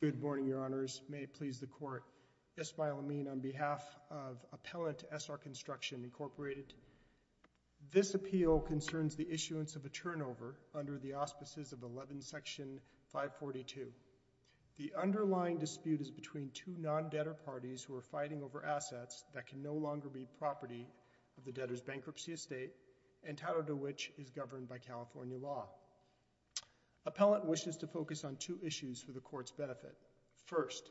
Good morning, Your Honors. May it please the Court. Yes, by all means, on behalf of Appellant SR Construction, Inc., this appeal concerns the issuance of a turnover under the auspices of 11 Section 542. The underlying dispute is between two non-debtor parties who are fighting over assets that can no longer be property of the debtor's bankruptcy estate entitled to which is governed by California law. Appellant wishes to focus on two issues for the Court's benefit. First,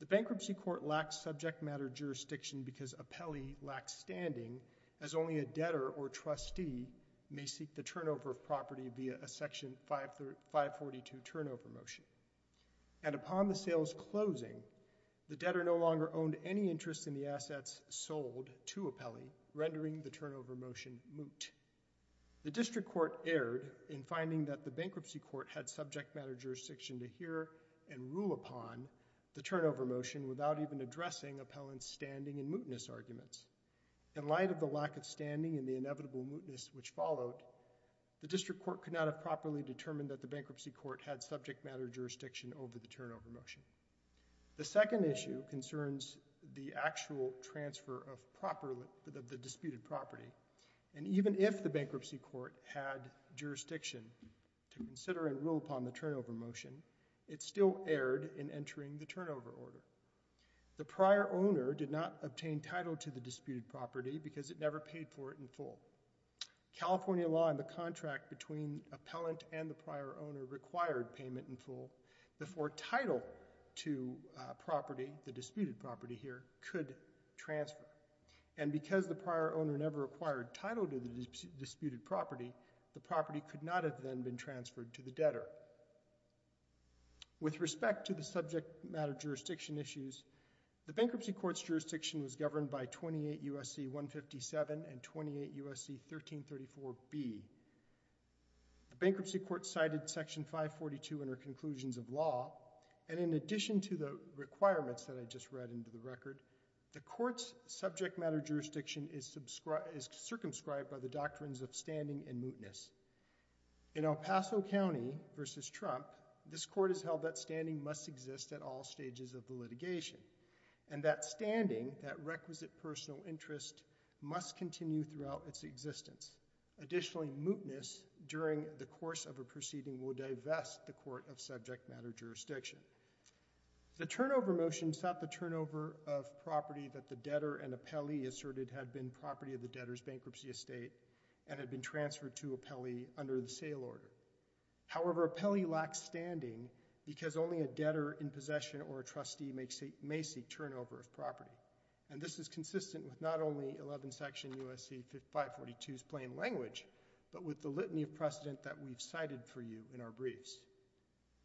the Bankruptcy Court lacks subject matter jurisdiction because Appellee lacks standing, as only a debtor or trustee may seek the turnover of property via a Section 542 turnover motion. And upon the sale's closing, the debtor no longer owned any interest in the assets sold to Appellee, rendering the turnover motion moot. The District Court erred in finding that the Bankruptcy Court had subject matter jurisdiction to hear and rule upon the turnover motion without even addressing Appellant's standing and mootness arguments. In light of the lack of standing and the inevitable mootness which followed, the District Court could not have properly determined that the Bankruptcy Court had subject matter jurisdiction over the turnover motion. The second issue concerns the actual transfer of the disputed property. And even if the Bankruptcy Court had jurisdiction to consider and rule upon the turnover motion, it still erred in entering the turnover order. The prior owner did not obtain title to the disputed property because it never paid for it in full. California law and the contract between Appellant and the prior owner required payment in full before title to property, the disputed property here, could transfer. And because the prior owner never acquired title to the disputed property, the property could not have then been transferred to the debtor. With respect to the subject matter jurisdiction issues, the Bankruptcy Court's jurisdiction was governed by 28 U.S.C. 157 and 28 U.S.C. 1334b. The Bankruptcy Court's jurisdiction cited Section 542 in our conclusions of law. And in addition to the requirements that I just read into the record, the Court's subject matter jurisdiction is circumscribed by the doctrines of standing and mootness. In El Paso County versus Trump, this Court has held that standing must exist at all stages of the litigation. And that standing, that requisite personal interest, must continue throughout its existence. Additionally, mootness during the course of a proceeding will divest the Court of subject matter jurisdiction. The turnover motion sought the turnover of property that the debtor and appellee asserted had been property of the debtor's bankruptcy estate and had been transferred to appellee under the sale order. However, appellee lacks standing because only a debtor in possession or a trustee may seek turnover of property. And this is consistent with not only 11 Section 157 and U.S.C. 542's plain language, but with the litany of precedent that we've cited for you in our briefs.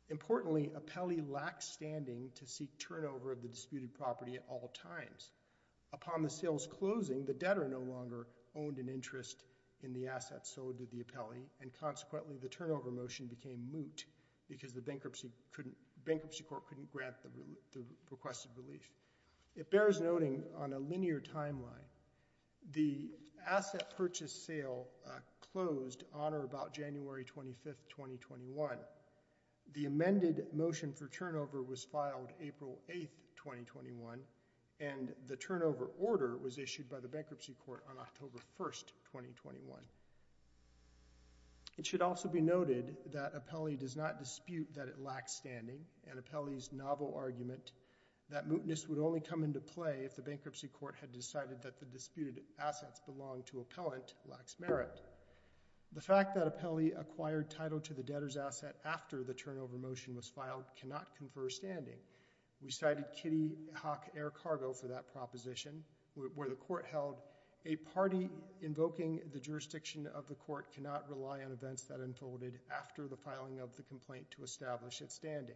Importantly, appellee lacks standing to seek turnover of the disputed property at all times. Upon the sale's closing, the debtor no longer owned an interest in the asset. So did the appellee. And consequently, the turnover motion became moot because the Bankruptcy Court couldn't grant the requested relief. It bears noting on a linear timeline, the asset purchase sale closed on or about January 25th, 2021. The amended motion for turnover was filed April 8th, 2021, and the turnover order was issued by the Bankruptcy Court on October 1st, 2021. It should also be noted that appellee does not dispute that it lacks standing, and appellee's novel argument that mootness would only come into play if the Bankruptcy Court had decided that the disputed assets belonged to appellant lacks merit. The fact that appellee acquired title to the debtor's asset after the turnover motion was filed cannot confer standing. We cited Kitty Hawk Air Cargo for that proposition where the court held, a party invoking the jurisdiction of the court cannot rely on events that unfolded after the filing of the complaint to establish its standing.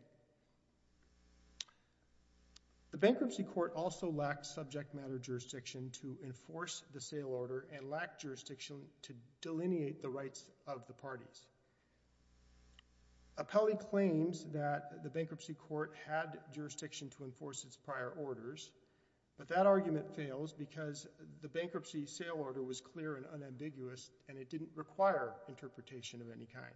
The Bankruptcy Court also lacked subject matter jurisdiction to enforce the sale order and lacked jurisdiction to delineate the rights of the parties. Appellee claims that the Bankruptcy Court had jurisdiction to enforce its prior orders, but that argument fails because the bankruptcy sale order was clear and unambiguous, and it didn't require interpretation of any kind.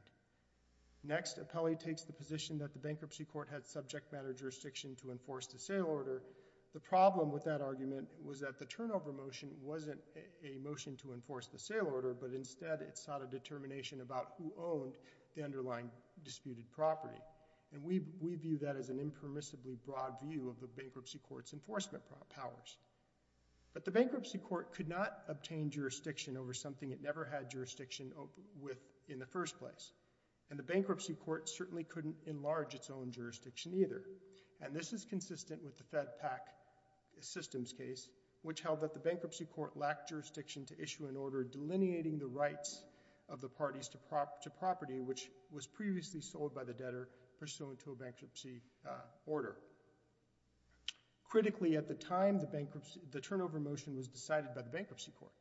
Next, appellee takes the position that the Bankruptcy Court had subject matter jurisdiction to enforce the sale order. The problem with that argument was that the turnover motion wasn't a motion to enforce the sale order, but instead it sought a determination about who owned the underlying disputed property. We view that as an impermissibly broad view of the Bankruptcy Court's enforcement powers. But the Bankruptcy Court could not obtain jurisdiction over something it never had jurisdiction with in the first place, and the Bankruptcy Court certainly couldn't enlarge its own jurisdiction either. And this is consistent with the FedPAC systems case, which held that the Bankruptcy Court lacked jurisdiction to issue an order delineating the rights of the parties to property which was previously sold by the debtor pursuant to a bankruptcy order. Critically, at the time, the turnover motion was decided by the Bankruptcy Court.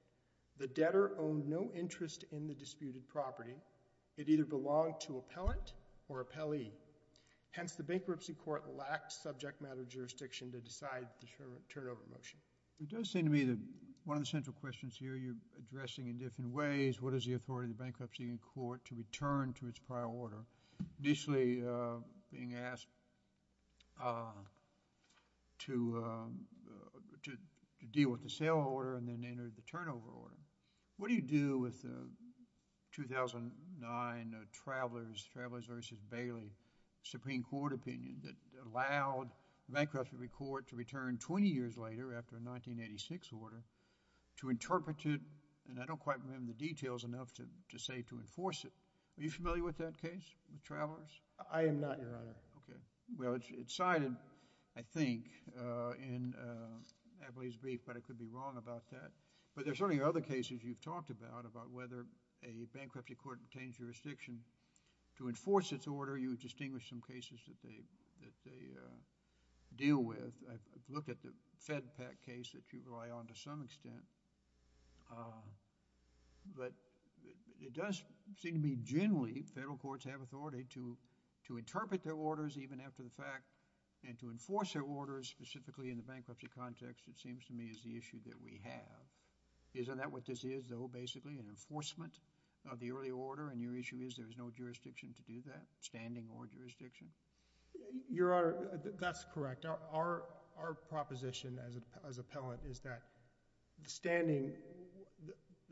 The debtor owned no interest in the disputed property. It either belonged to appellant or appellee. Hence, the Bankruptcy Court lacked subject matter jurisdiction to decide the turnover motion. It does seem to me that one of the central questions here you're addressing in different ways, what is the authority of the Bankruptcy Court to return to its prior order? Initially being asked to deal with the sale order and then enter the turnover order, what do you do with the 2009 Travelers v. Bailey Supreme Court opinion that allowed the Bankruptcy Court to return 20 years later after a 1986 order to interpret it, and I don't quite remember the details enough to say to enforce it. Are you familiar with that case, with Travelers? I am not, Your Honor. Okay. Well, it's cited, I think, in Appellee's brief, but I could be wrong about that. But there's certainly other cases you've talked about, about whether a Bankruptcy Court retains jurisdiction. To enforce its order, you distinguish some cases that they deal with. I've looked at the FedPAC case that you rely on to some extent. But it does seem to me generally federal courts have authority to interpret their orders even after the fact and to enforce their orders specifically in the bankruptcy context, it seems to me, is the issue that we have. Isn't that what this is, though, basically, an enforcement of the early order, and your issue is there is no jurisdiction to do that, standing or jurisdiction? Your Honor, that's correct. Our proposition as appellant is that standing,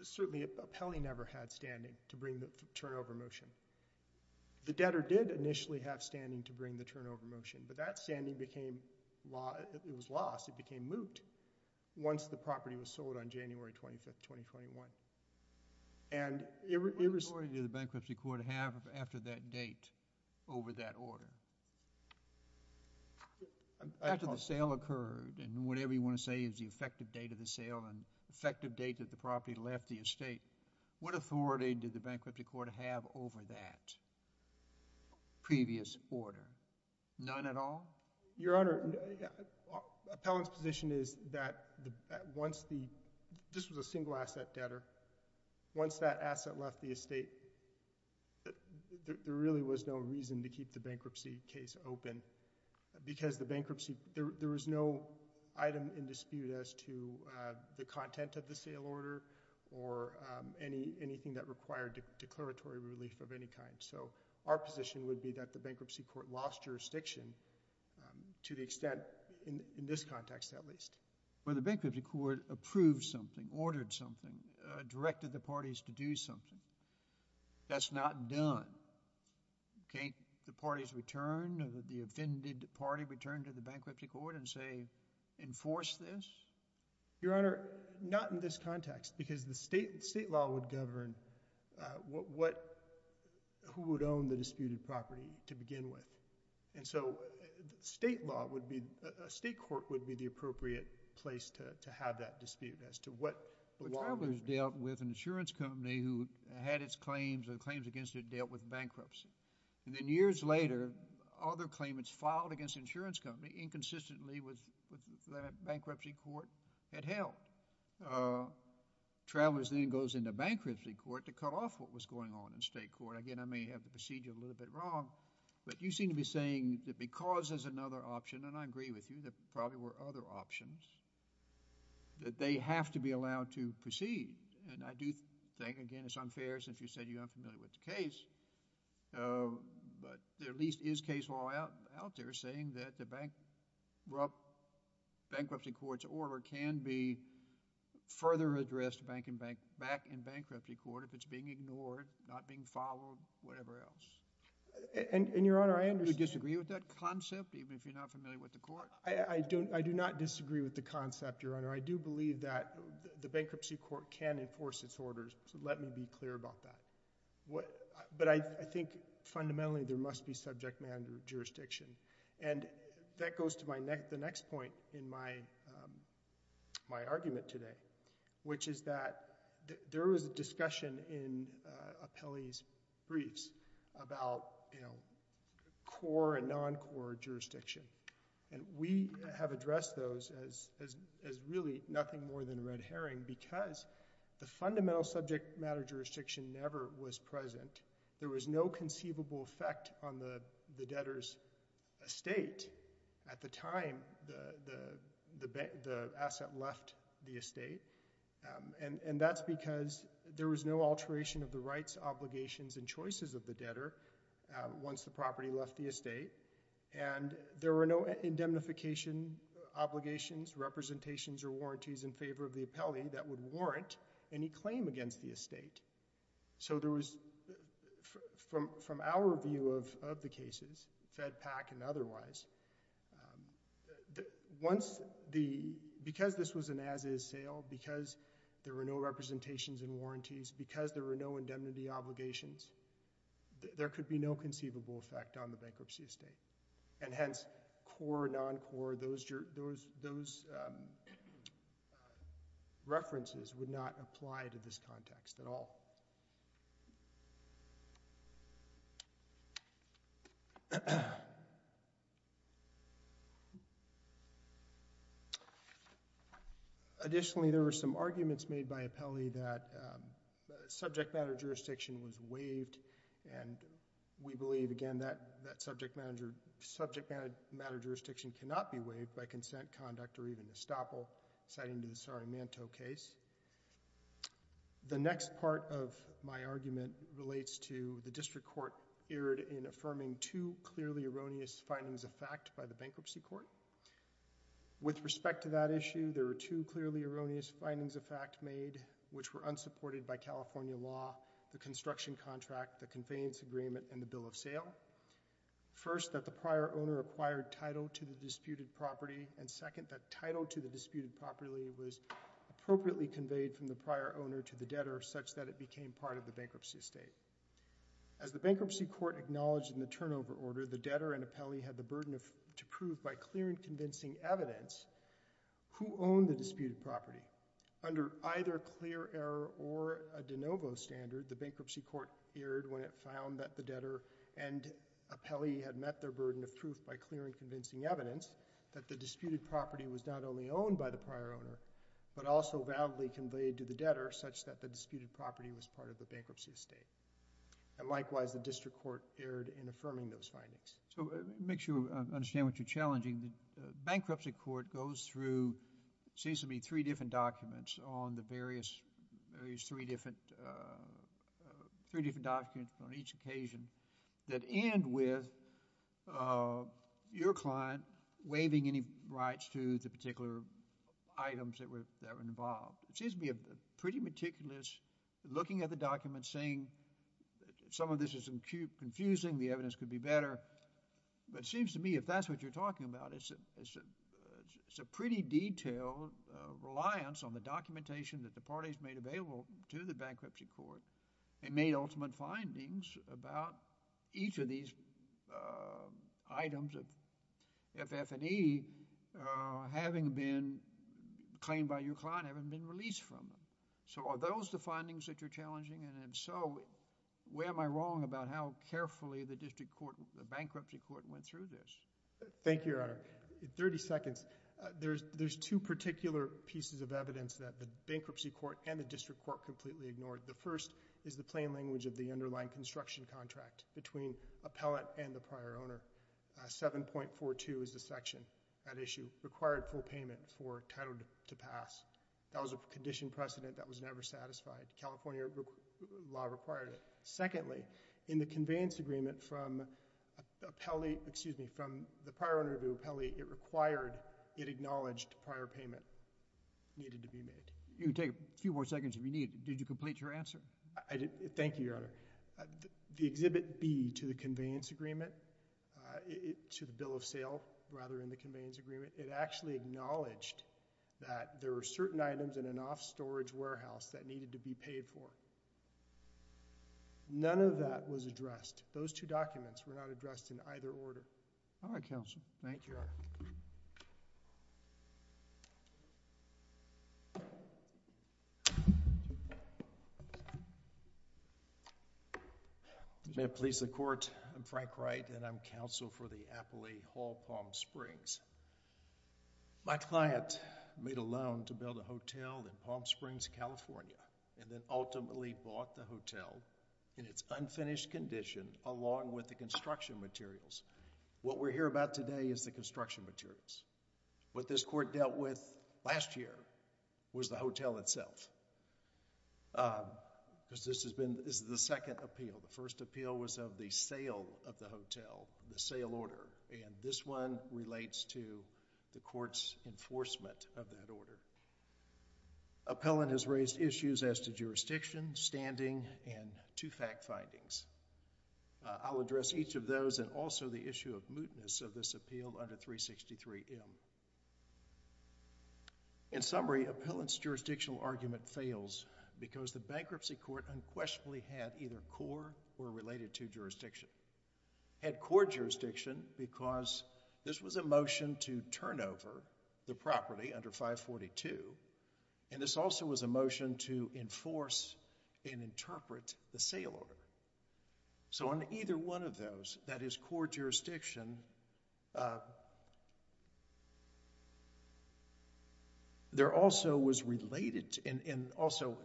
certainly Appellee never had standing to bring the turnover motion. The debtor did initially have standing to bring the turnover motion, but it was lost. It became moot once the property was sold on January 25th, 2021. And it was... What authority did the Bankruptcy Court have after that date over that order? After the sale occurred, and whatever you want to say is the effective date of the sale and effective date that the property left the estate, what authority did the Bankruptcy Court have over that previous order? None at all? Your Honor, appellant's position is that once the... this was a single-asset debtor. Once that asset left the estate, there really was no reason to keep the bankruptcy case open, because the bankruptcy... there was no item in dispute as to the content of the sale order or anything that required declaratory relief of any kind. So our position would be that the Bankruptcy Court lost jurisdiction to the extent, in this context at least. But the Bankruptcy Court approved something, ordered something, directed the parties to do something. That's not done. Can't the parties return or the offended party return to the Bankruptcy Court and say, enforce this? Your Honor, not in this context, because the state law would govern what... who would own the disputed property to begin with. And so state law would be... a state court would be the appropriate place to have that dispute as to what... But Travelers dealt with an insurance company who had its claims and the claims against it dealt with bankruptcy. And then years later, other claimants filed against the insurance company inconsistently with that Bankruptcy Court had held. Travelers then goes into Bankruptcy Court to cut off what was going on in state court. Again, I may have the procedure a little bit wrong, but you seem to be saying that because there's another option, and I agree with you, there probably were other options, that they have to be allowed to proceed. And I do think, again, it's unfair since you said you're unfamiliar with the case, but there at least is case law out there saying that the Bankruptcy Court's order can be further addressed back in Bankruptcy Court if it's being ignored, not being followed, whatever else. And, Your Honor, I understand... Do you disagree with that concept, even if you're not familiar with the court? I do not disagree with the concept, Your Honor. I do believe that the Bankruptcy Court can enforce its orders, so let me be clear about that. But I think fundamentally there must be subject matter jurisdiction. And that goes to the next point in my argument today, which is that there was a discussion in Apelli's briefs about core and non-core jurisdiction. And we have addressed those as really nothing more than red herring because the fundamental subject matter jurisdiction never was present. There was no conceivable effect on the debtor's estate at the time the asset left the estate, and that's because there was no alteration of the rights, obligations, and choices of the debtor once the property left the estate. And there were no indemnification obligations, representations, or warranties in favor of the Apelli that would warrant any claim against the estate. So there was, from our view of the cases, FedPAC and otherwise, because this was an as-is sale, because there were no representations and warranties, because there were no indemnity obligations, there could be no conceivable effect on the bankruptcy estate. And hence, core or non-core, those references would not be used. Additionally, there were some arguments made by Apelli that subject matter jurisdiction was waived, and we believe, again, that subject matter jurisdiction cannot be waived by consent, conduct, or even estoppel, citing the Sarimanto case. The next part of my argument relates to the following two clearly erroneous findings of fact by the Bankruptcy Court. With respect to that issue, there were two clearly erroneous findings of fact made, which were unsupported by California law, the construction contract, the conveyance agreement, and the bill of sale. First, that the prior owner acquired title to the disputed property, and second, that title to the disputed property was appropriately conveyed from the prior owner to the debtor such that it became part of the bankruptcy estate. As the Bankruptcy Court acknowledged in the turnover order, the debtor and Apelli had the burden to prove by clear and convincing evidence who owned the disputed property. Under either clear error or a de novo standard, the Bankruptcy Court erred when it found that the debtor and Apelli had met their burden of proof by clear and convincing evidence that the disputed property was not only owned by the prior owner, but also validly conveyed to the debtor such that the disputed property was part of the bankruptcy estate. And likewise, the District Court erred in affirming those findings. So, to make sure we understand what you're challenging, the Bankruptcy Court goes through, it seems to me, three different documents on the various, various three different, uh, three different documents on each occasion that end with, uh, your client waiving any rights to the particular items that were, that were involved. It seems to me a pretty meticulous looking at the documents saying some of this is confusing, the evidence could be better. But it seems to me if that's what you're talking about, it's a, it's a, it's a pretty detailed, uh, reliance on the documentation that the parties made available to the Bankruptcy Court and made ultimate findings about each of these, uh, items of FF&E, uh, having been claimed by your client, having been released from them. So, are those the findings that you're challenging? And if so, where am I wrong about how carefully the District Court, the Bankruptcy Court went through this? Thank you, Your Honor. In 30 seconds, uh, there's, there's two particular pieces of evidence that the Bankruptcy Court and the District Court completely ignored. The first is the plain language of the underlying construction contract between appellate and the prior owner. Uh, 7.42 is the section, that issue, required full payment for title to, to pass. That was a condition precedent that was never satisfied. California requ, law required it. Secondly, in the conveyance agreement from appellate, excuse me, from the prior owner of the appellate, it required, it acknowledged prior payment needed to be made. You can take a few more seconds if you need. Did you complete your answer? I did. Thank you, Your Honor. The, the Exhibit B to the conveyance agreement, uh, it, to the bill of sale, rather in the conveyance agreement, it actually acknowledged that there were certain items in an off-storage warehouse that needed to be paid for. None of that was addressed. Those two documents were not addressed in either order. All right, Counsel. Thank you, Your Honor. May it please the Court, I'm Frank Wright, and I'm counsel for the Appley Hall, Palm Springs. My client made a loan to build a hotel in Palm Springs, California, and then ultimately bought the hotel in its unfinished condition along with the construction materials. What we're here about today is the construction materials. What this Court dealt with last year was the hotel itself. Uh, because this has been, this is the second appeal. The first appeal was of the sale of the hotel, the sale order, and this one relates to the Court's jurisdiction, standing, and two fact findings. Uh, I'll address each of those and also the issue of mootness of this appeal under 363M. In summary, appellant's jurisdictional argument fails because the bankruptcy court unquestionably had either core or related to jurisdiction. Had core jurisdiction because this was a motion to turn over the property under 542, and this also was a motion to enforce and interpret the sale order. So, on either one of those, that is core jurisdiction, uh, there also was related to, and, and also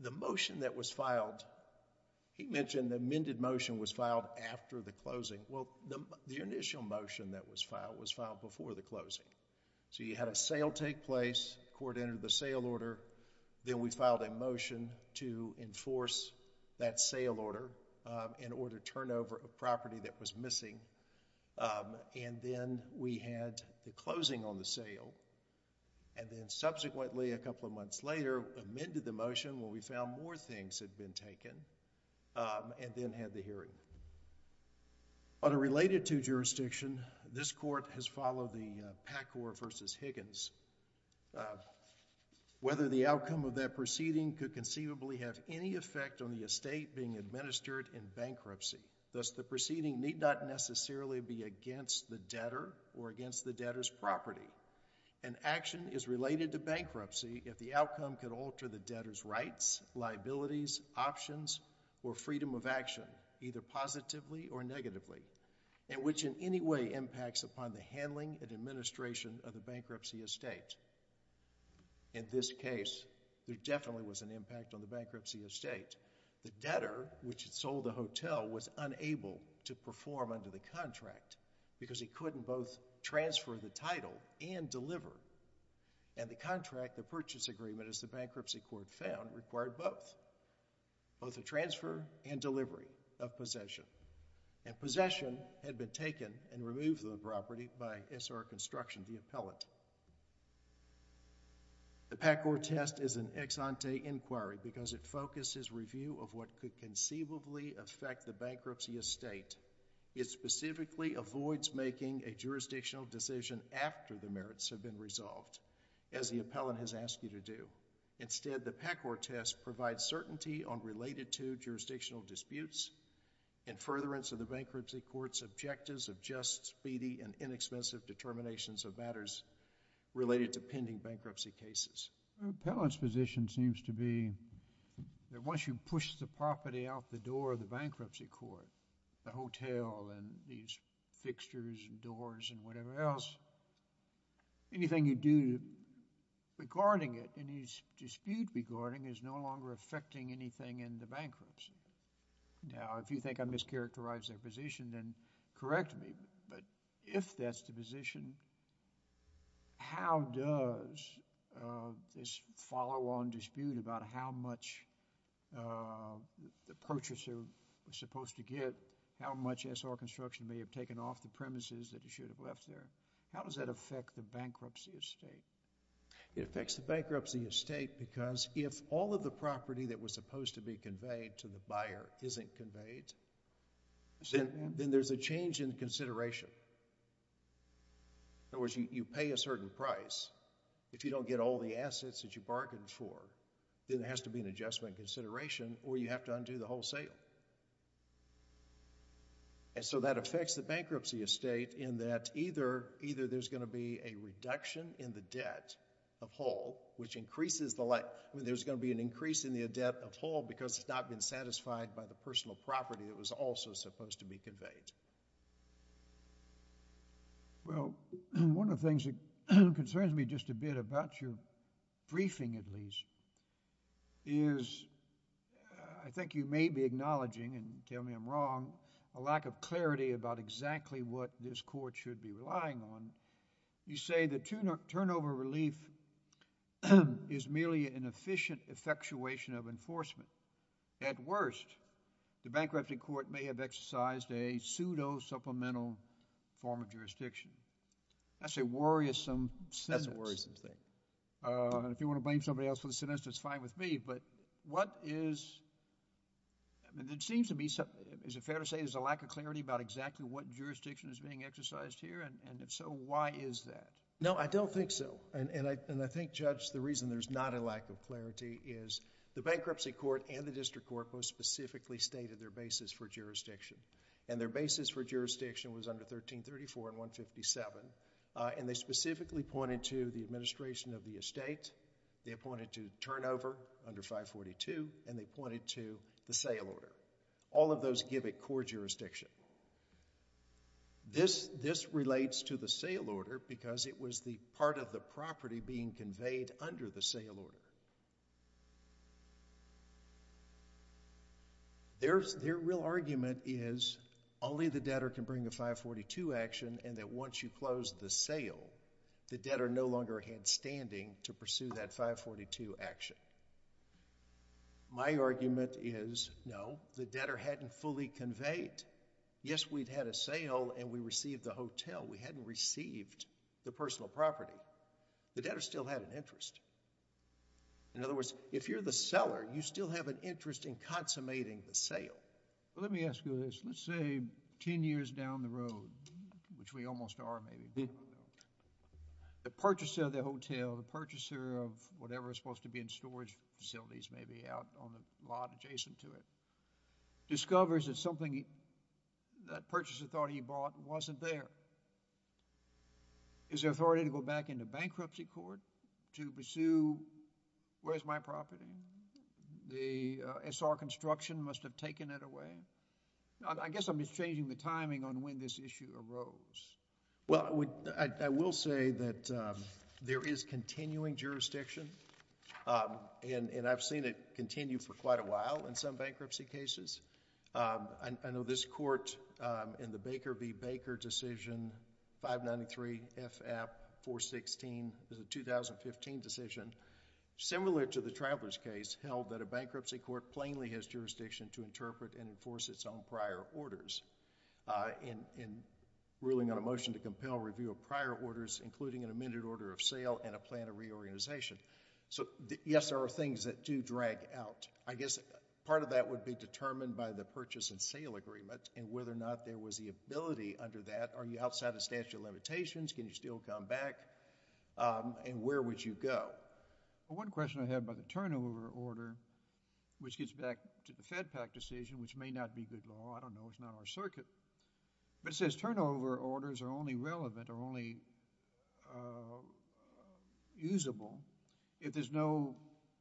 the motion that was filed, he mentioned the amended motion was filed after the closing. Well, the, the initial motion that was filed was filed before the closing. So, you had a sale take place, court entered the sale order, then we filed a motion to enforce that sale order, um, in order to turn over a property that was missing, um, and then we had the closing on the sale, and then subsequently a couple of months later, amended the motion where we found more things had been taken, um, and then had the hearing. On a related to jurisdiction, this court has decided, uh, whether the outcome of that proceeding could conceivably have any effect on the estate being administered in bankruptcy. Thus, the proceeding need not necessarily be against the debtor or against the debtor's property. An action is related to bankruptcy if the outcome could alter the debtor's rights, liabilities, options, or freedom of action, either positively or negatively, and which in any way impacts upon the handling and administration of the bankruptcy estate. In this case, there definitely was an impact on the bankruptcy estate. The debtor, which had sold the hotel, was unable to perform under the contract because he couldn't both transfer the title and deliver, and the contract, the purchase agreement, as the bankruptcy court found, required both, both the transfer and delivery of possession, and possession had been taken and removed from the property by SR Construction, the appellant. The PACOR test is an ex-ante inquiry because it focuses review of what could conceivably affect the bankruptcy estate. It specifically avoids making a jurisdictional decision after the merits have been resolved, as the appellant has asked you to do. Instead, the PACOR test provides certainty on related to jurisdictional disputes and furtherance of the bankruptcy court's objectives of just, speedy, and inexpensive determinations of matters related to pending bankruptcy cases. The appellant's position seems to be that once you push the property out the door of the bankruptcy court, the hotel and these fixtures and doors and whatever else, anything you do regarding it, any dispute regarding it, is no longer affecting anything in the bankruptcy. Now, if you think I mischaracterized their position, then correct me, but if that's the position, how does this follow-on dispute about how much the purchaser was supposed to get, how much SR Construction may have taken off the premises that he should have taken off the premises? It affects the bankruptcy estate because if all of the property that was supposed to be conveyed to the buyer isn't conveyed, then there's a change in consideration. In other words, you pay a certain price. If you don't get all the assets that you bargained for, then there has to be an adjustment in consideration or you have to undo the whole sale. And so that affects the bankruptcy estate in that either there's going to be a reduction in the debt of whole, which increases the like, I mean, there's going to be an increase in the debt of whole because it's not been satisfied by the personal property that was also supposed to be conveyed. Well, one of the things that concerns me just a bit about your briefing, at least, is I think you may be acknowledging, and tell me I'm wrong, a lack of clarity about exactly what this court should be relying on. You say that turnover relief is merely an efficient effectuation of enforcement. At worst, the bankruptcy court may have exercised a pseudo-supplemental form of jurisdiction. That's a worrisome sentence. That's a worrisome thing. If you want to blame somebody else for the sentence, that's fine with me, but what is, I mean, it seems to me, is it fair to say there's a lack of clarity about exactly what jurisdiction is being exercised here? And if so, why is that? No, I don't think so. And I think, Judge, the reason there's not a lack of clarity is the bankruptcy court and the district court most specifically stated their basis for jurisdiction. And their basis for jurisdiction was under 1334 and 157. And they specifically pointed to the administration of the estate, they pointed to turnover under 542, and they pointed to the sale order. All of those give it core jurisdiction. This relates to the sale order because it was the part of the property being conveyed under the sale order. Their real argument is only the debtor can bring a 542 action and that once you close the sale, the debtor no longer had standing to pursue that 542 action. My argument is no, the debtor hadn't fully conveyed. Yes, we'd had a sale and we received the hotel. We hadn't received the personal property. The debtor still had an interest. In other words, if you're the seller, you still have an interest in consummating the sale. Let me ask you this. Let's say 10 years down the road, which we almost are maybe, the purchaser of the hotel, the purchaser of whatever is supposed to be in storage facilities maybe out on the lot adjacent to it, discovers that something that purchaser thought he bought wasn't there. Is there authority to go back into bankruptcy court to pursue where's my debtor went? I guess I'm just changing the timing on when this issue arose. Well, I will say that there is continuing jurisdiction and I've seen it continue for quite a while in some bankruptcy cases. I know this court in the Baker v. Baker decision 593 F. App. 416 is a 2015 decision. Similar to the Traveler's case held that a bankruptcy court plainly has jurisdiction to interpret and enforce its own prior orders. In ruling on a motion to compel review of prior orders including an amended order of sale and a plan of reorganization. Yes, there are things that do drag out. I guess part of that would be determined by the purchase and sale agreement and whether or not there was the ability under that. Are you outside the statute of limitations? Can you still come back? Where would you go? One question I have about the turnover order which gets back to the FedPAC decision which may not be good law. I don't know. It's not our circuit. It says turnover orders are only relevant or only usable if there's no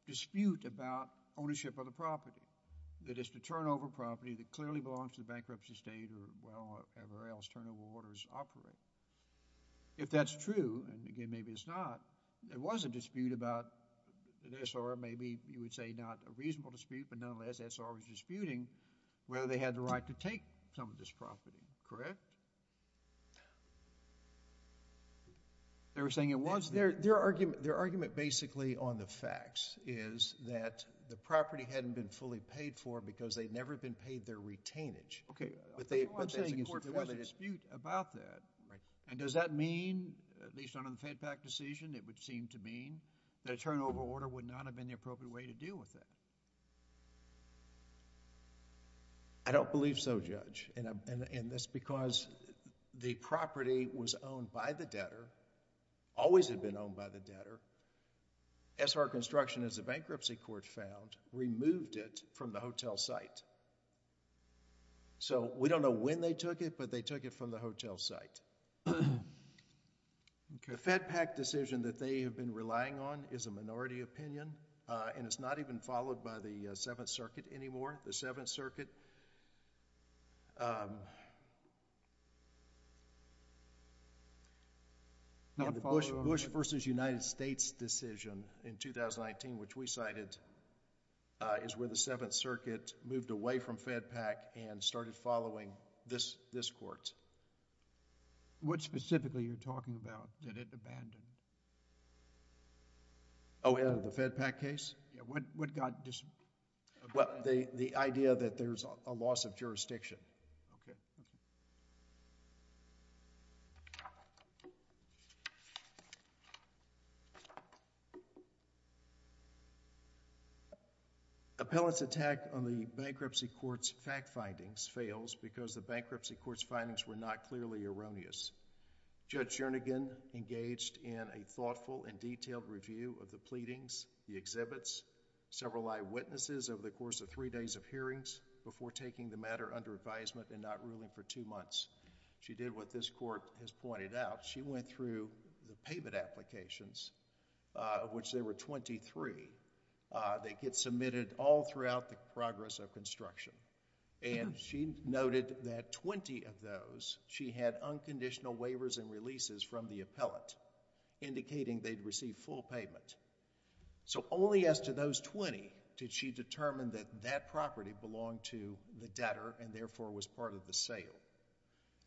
dispute about ownership of the property. That it's the turnover property that clearly belongs to the bankruptcy state or wherever else turnover orders operate. If that's true, and again maybe it's not, there was a dispute about an S.R. Maybe you would say not a reasonable dispute, but nonetheless, S.R. was disputing whether they had the right to take some of this property, correct? They were saying it was. Their argument basically on the facts is that the property hadn't been fully paid for because they'd never been paid their retainage. Okay. What I'm saying is there was a dispute about that. Right. Does that mean, at least under the FedPAC decision, it would seem to mean that a turnover order would not have been the appropriate way to deal with that? I don't believe so, Judge. That's because the property was owned by the debtor, always had been owned by the debtor. S.R. Construction, as the bankruptcy court found, removed it from the hotel site. So, we don't know when they took it, but they took it from the hotel site. The FedPAC decision that they have been relying on is a minority opinion, and it's not even followed by the Seventh Circuit anymore. The Seventh Circuit, the Bush versus United States decision in 2019, which we cited, is where the Seventh Circuit moved away from FedPAC and started following this court. What specifically are you talking about that it abandoned? Oh, the FedPAC case? Yeah. What got... Well, the idea that there's a loss of jurisdiction. Okay. Okay. Appellant's attack on the bankruptcy court's fact findings fails because the bankruptcy court's findings were not clearly erroneous. Judge Jernigan engaged in a thoughtful and detailed review of the pleadings, the exhibits, several eyewitnesses over the course of three days of hearings before taking the matter under advisement and not ruling for two months. She did what this court has pointed out. She went through the payment applications, of which there were 23. They get submitted all throughout the progress of construction, and she noted that 20 of those, she had unconditional waivers and releases from the appellant indicating they'd receive full payment. So, only as to those 20 did she determine that that property belonged to the debtor and, therefore, was part of the sale.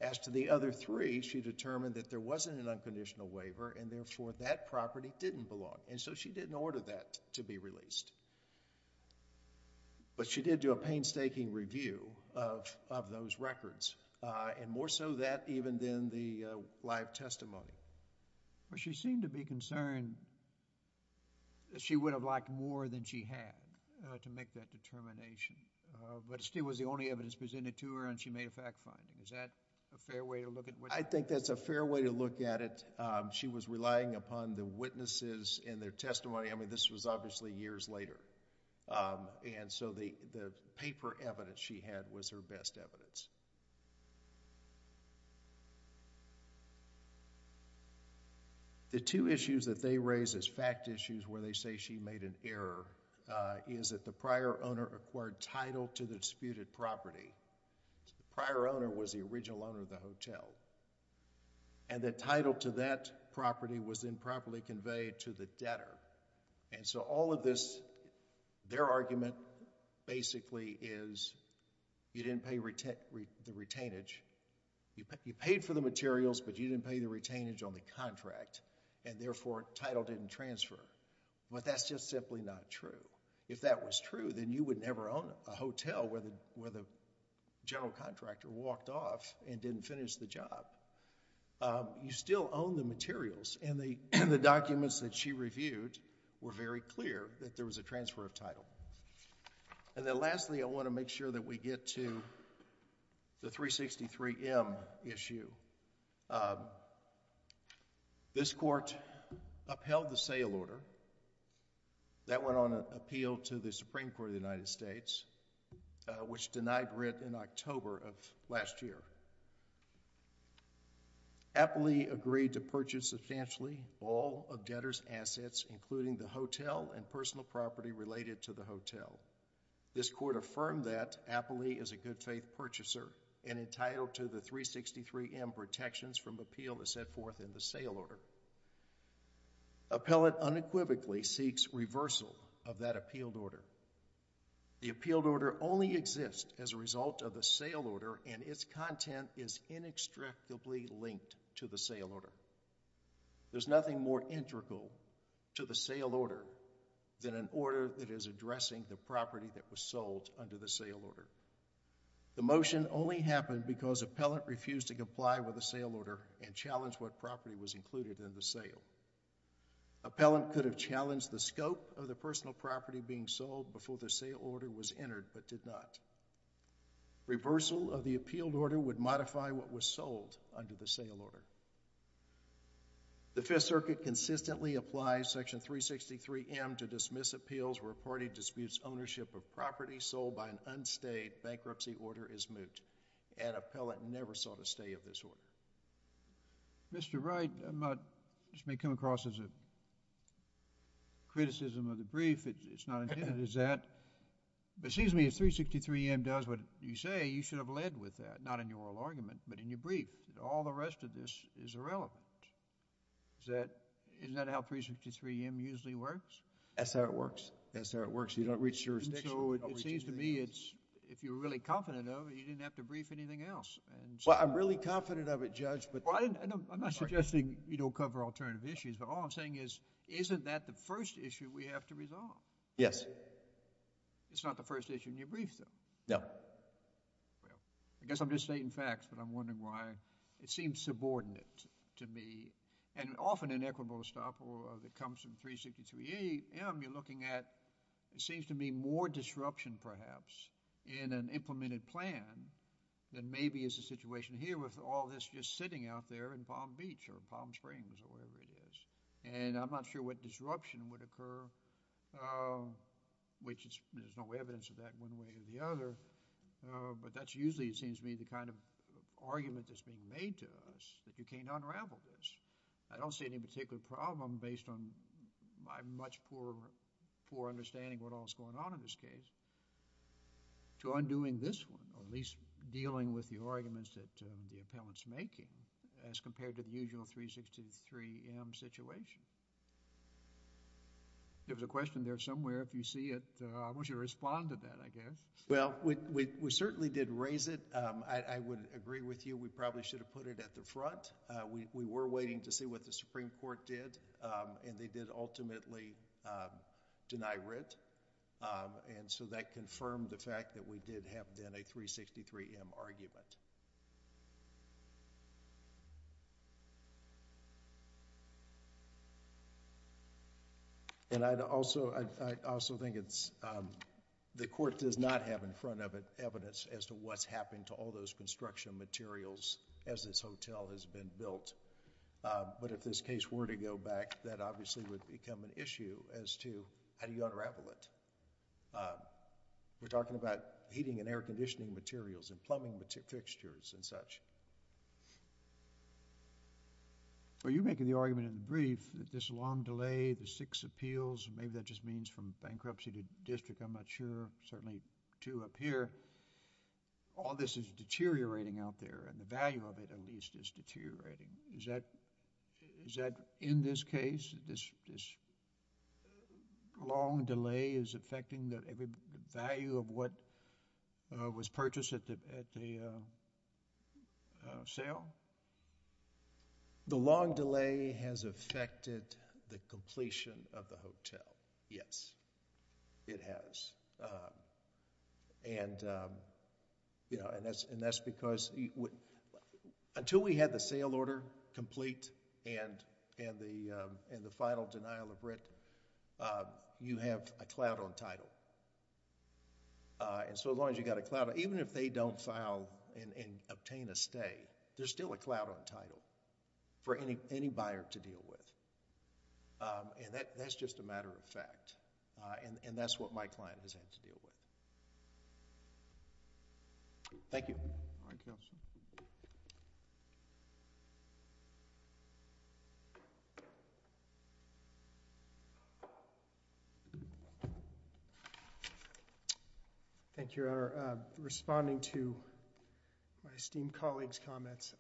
As to the other three, she determined that there wasn't an unconditional waiver and, therefore, that property didn't belong, and so she didn't order that to be released. But she did do a painstaking review of those records, and more so that even than the live testimony. She seemed to be concerned that she would have liked more than she had to make that determination, but it still was the only evidence presented to her, and she made a fact finding. Is that a fair way to look at it? I think that's a fair way to look at it. She was relying upon the witnesses and their testimony. I mean, this was obviously years later, and so the paper evidence she had was her best evidence. The two issues that they raise as fact issues where they say she made an error is that the debtor acquired title to the disputed property. The prior owner was the original owner of the hotel, and the title to that property was improperly conveyed to the debtor. So, all of this, their argument, basically, is you didn't pay the retainage. You paid for the materials, but you didn't pay the retainage on the contract, and, therefore, title didn't transfer, but that's just simply not true. If that was true, then you would never own a hotel where the general contractor walked off and didn't finish the job. You still own the materials, and the documents that she reviewed were very clear that there was a transfer of title, and then, lastly, I want to make sure that we get to the 363M issue. This Court upheld the sale order that went on appeal to the Supreme Court of the United States, which denied rent in October of last year. Appley agreed to purchase substantially all of debtor's assets, including the hotel and personal property related to the hotel. This Court affirmed that Appley is a good-faith purchaser and entitled to the 363M protections from appeal that set forth in the sale order. Appellant unequivocally seeks reversal of that appealed order. The appealed order only exists as a result of the sale order, and its content is inextricably linked to the sale order. There's nothing more integral to the sale order than an order that is addressing the property that was sold under the sale order. The motion only happened because appellant refused to comply with the sale order and challenged what property was included in the sale. Appellant could have challenged the scope of the personal property being sold before the sale order was entered, but did not. Reversal of the appealed order would modify what was sold under the sale order. The Fifth Circuit consistently applies Section 363M to dismiss appeals where a party disputes ownership of property sold by an unstayed bankruptcy order is moot. And appellant never sought a stay of this order. Mr. Wright, I just may come across as a criticism of the brief. It's not intended as that. But it seems to me if 363M does what you say, you should have led with that, not in your oral argument, but in your brief. All the rest of this is irrelevant. Isn't that how 363M usually works? That's how it works. That's how it works. You don't reach jurisdiction. And so it seems to me it's, if you're really confident of it, you didn't have to brief anything else. Well, I'm really confident of it, Judge, but... Well, I'm not suggesting you don't cover alternative issues, but all I'm saying is, isn't that the first issue we have to resolve? Yes. It's not the first issue in your brief, Judge. I guess I'm just stating facts, but I'm wondering why it seems subordinate to me. And often in equitable estoppel that comes from 363M, you're looking at, it seems to me, more disruption, perhaps, in an implemented plan than maybe is the situation here with all this just sitting out there in Palm Beach or Palm Springs or wherever it is. And I'm not sure what disruption would occur, which there's no evidence of that one way or the other, but that's usually, it seems to me, the kind of argument that's being made to us, that you can't unravel this. I don't see any particular problem based on my much poor understanding of what all is going on in this case to undoing this one or at least dealing with the arguments that the appellant's making as compared to the usual 363M situation. There was a question there somewhere. If you see it, I want you to respond to that, I guess. Well, we certainly did raise it. I would agree with you. We probably should have put it at the front. We were waiting to see what the Supreme Court did, and they did ultimately deny writ, and so that confirmed the fact that we did have, then, a 363M argument. And I'd also, I also think it's, the court does not have in front of it evidence as to what's happened to all those construction materials as this hotel has been built. But if this case were to go back, that obviously would become an issue as to how do you unravel it. We're talking about heating and air conditioning materials and plumbing fixtures and such. Well, you're making the argument in the brief that this long delay, the six appeals, maybe that just means from bankruptcy to district, I'm not sure. Certainly two up here. All this is deteriorating out there, and the value of it, at least, is deteriorating. Is that, in this case, this long delay is affecting the value of what was purchased at the sale? The long delay has affected the completion of the hotel. Yes, it has. And that's because until we had the sale order complete and the final denial of writ, you have a cloud on title. And so as long as you've got a cloud, even if they don't file and obtain a stay, there's still a cloud on title for any buyer to deal with. And that's just a matter of fact, and that's what my client has had to deal with. Thank you. Thank you, Your Honor. Responding to my esteemed colleague's comments,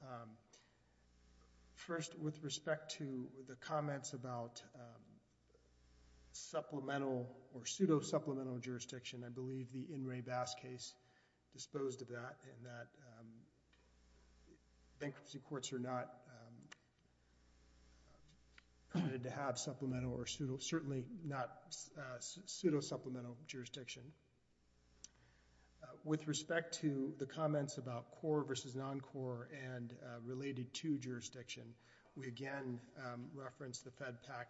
first, with respect to the comments about supplemental or pseudo-supplemental jurisdiction, I believe the In re Bass case disposed of that, and that bankruptcy courts are not permitted to have supplemental or pseudo-supplemental jurisdiction. With respect to the comments about core versus non-core and related to jurisdiction, we again reference the FedPAC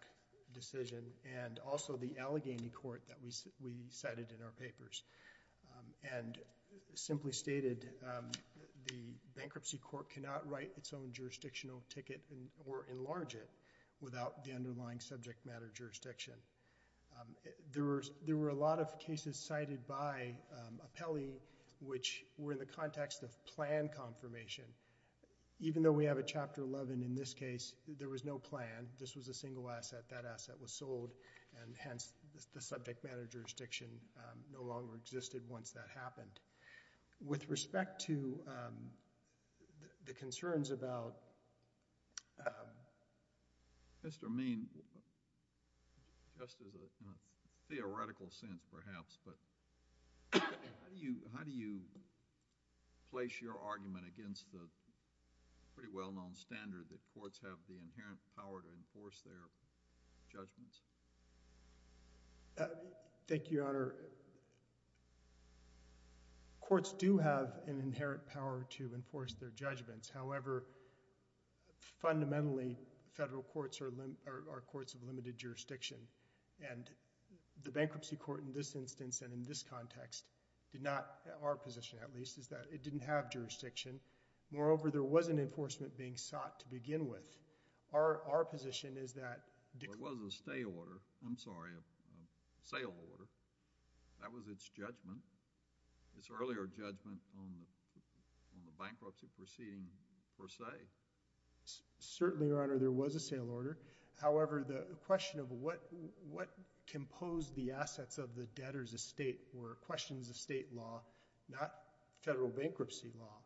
decision and also the Allegheny Court that we cited in our papers and simply stated the bankruptcy court cannot write its own jurisdictional ticket or enlarge it without the underlying subject matter jurisdiction. There were a lot of cases cited by Apelli which were in the context of plan confirmation. Even though we have a Chapter 11 in this case, there was no plan. This was a single asset. That asset was sold, and hence, the subject matter jurisdiction no longer existed once that happened. With respect to the concerns about... Mr. Meen, just as a theoretical sense, perhaps, but how do you place your argument against the pretty well-known standard that courts have the inherent power to enforce their judgments? Thank you, Your Honor. Courts do have an inherent power to enforce their judgments. However, fundamentally, federal courts are courts of limited jurisdiction. The bankruptcy court in this instance and in this context did not, our position at least, is that it didn't have to be enforced. Moreover, there was an enforcement being sought to begin with. Our position is that... Well, it was a stay order. I'm sorry, a sale order. That was its judgment, its earlier judgment on the bankruptcy proceeding per se. Certainly, Your Honor, there was a sale order. However, the question of what composed the assets of the debtor's estate were questions of state law, not federal bankruptcy law.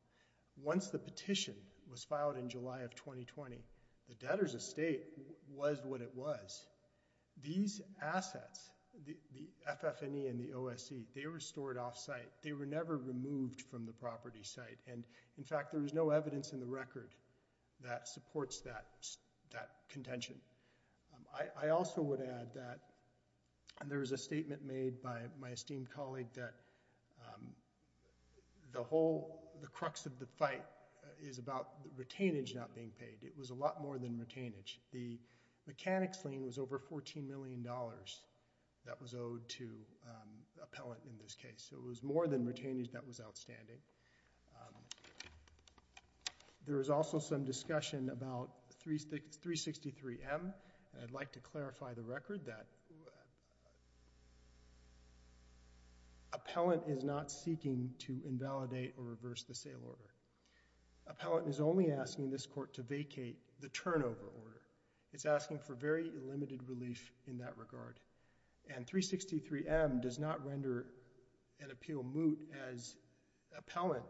Once the petition was filed in July of 2020, the debtor's estate was what it was. These assets, the FF&E and the OSC, they were stored off-site. They were never removed from the property site. In fact, there is no evidence in the record that supports that contention. I also would add that there was a statement made by my esteemed colleague that the crux of the fight is about the retainage not being paid. It was a lot more than retainage. The mechanics lien was over $14 million that was owed to appellant in this case. It was more than retainage that was outstanding. There was also some discussion about 363M. I'd like to clarify the record that appellant is not seeking to invalidate or reverse the sale order. Appellant is only asking this court to vacate the turnover order. It's asking for very limited relief in that regard. 363M does not render an appeal moot as appellant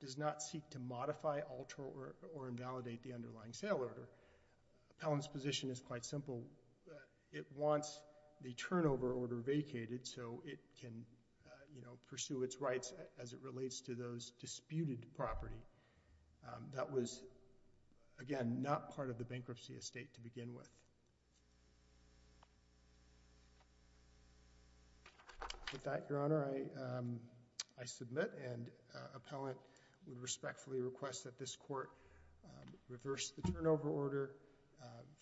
does not seek to modify, alter, or invalidate the underlying sale order. Appellant's position is quite simple. It wants the turnover order vacated so it can pursue its rights as it relates to those disputed property. That was again not part of the bankruptcy estate to begin with. With that, Your Honor, I submit and appellant would respectfully request that this court reverse the turnover order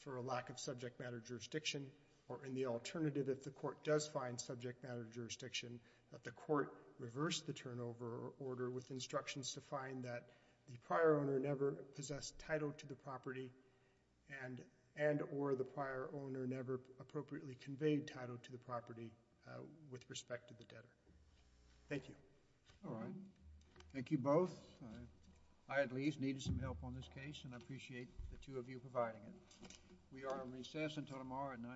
for a lack of subject matter jurisdiction or in the alternative if the court does find subject matter jurisdiction, that the court reverse the turnover order with instructions to find that the prior owner never possessed title to the property and or the prior owner never appropriately conveyed title to the property with respect to the debtor. Thank you. All right. Thank you both. I at least needed some help on this case and I appreciate the two of you providing it. We are on recess until tomorrow at 9 a.m.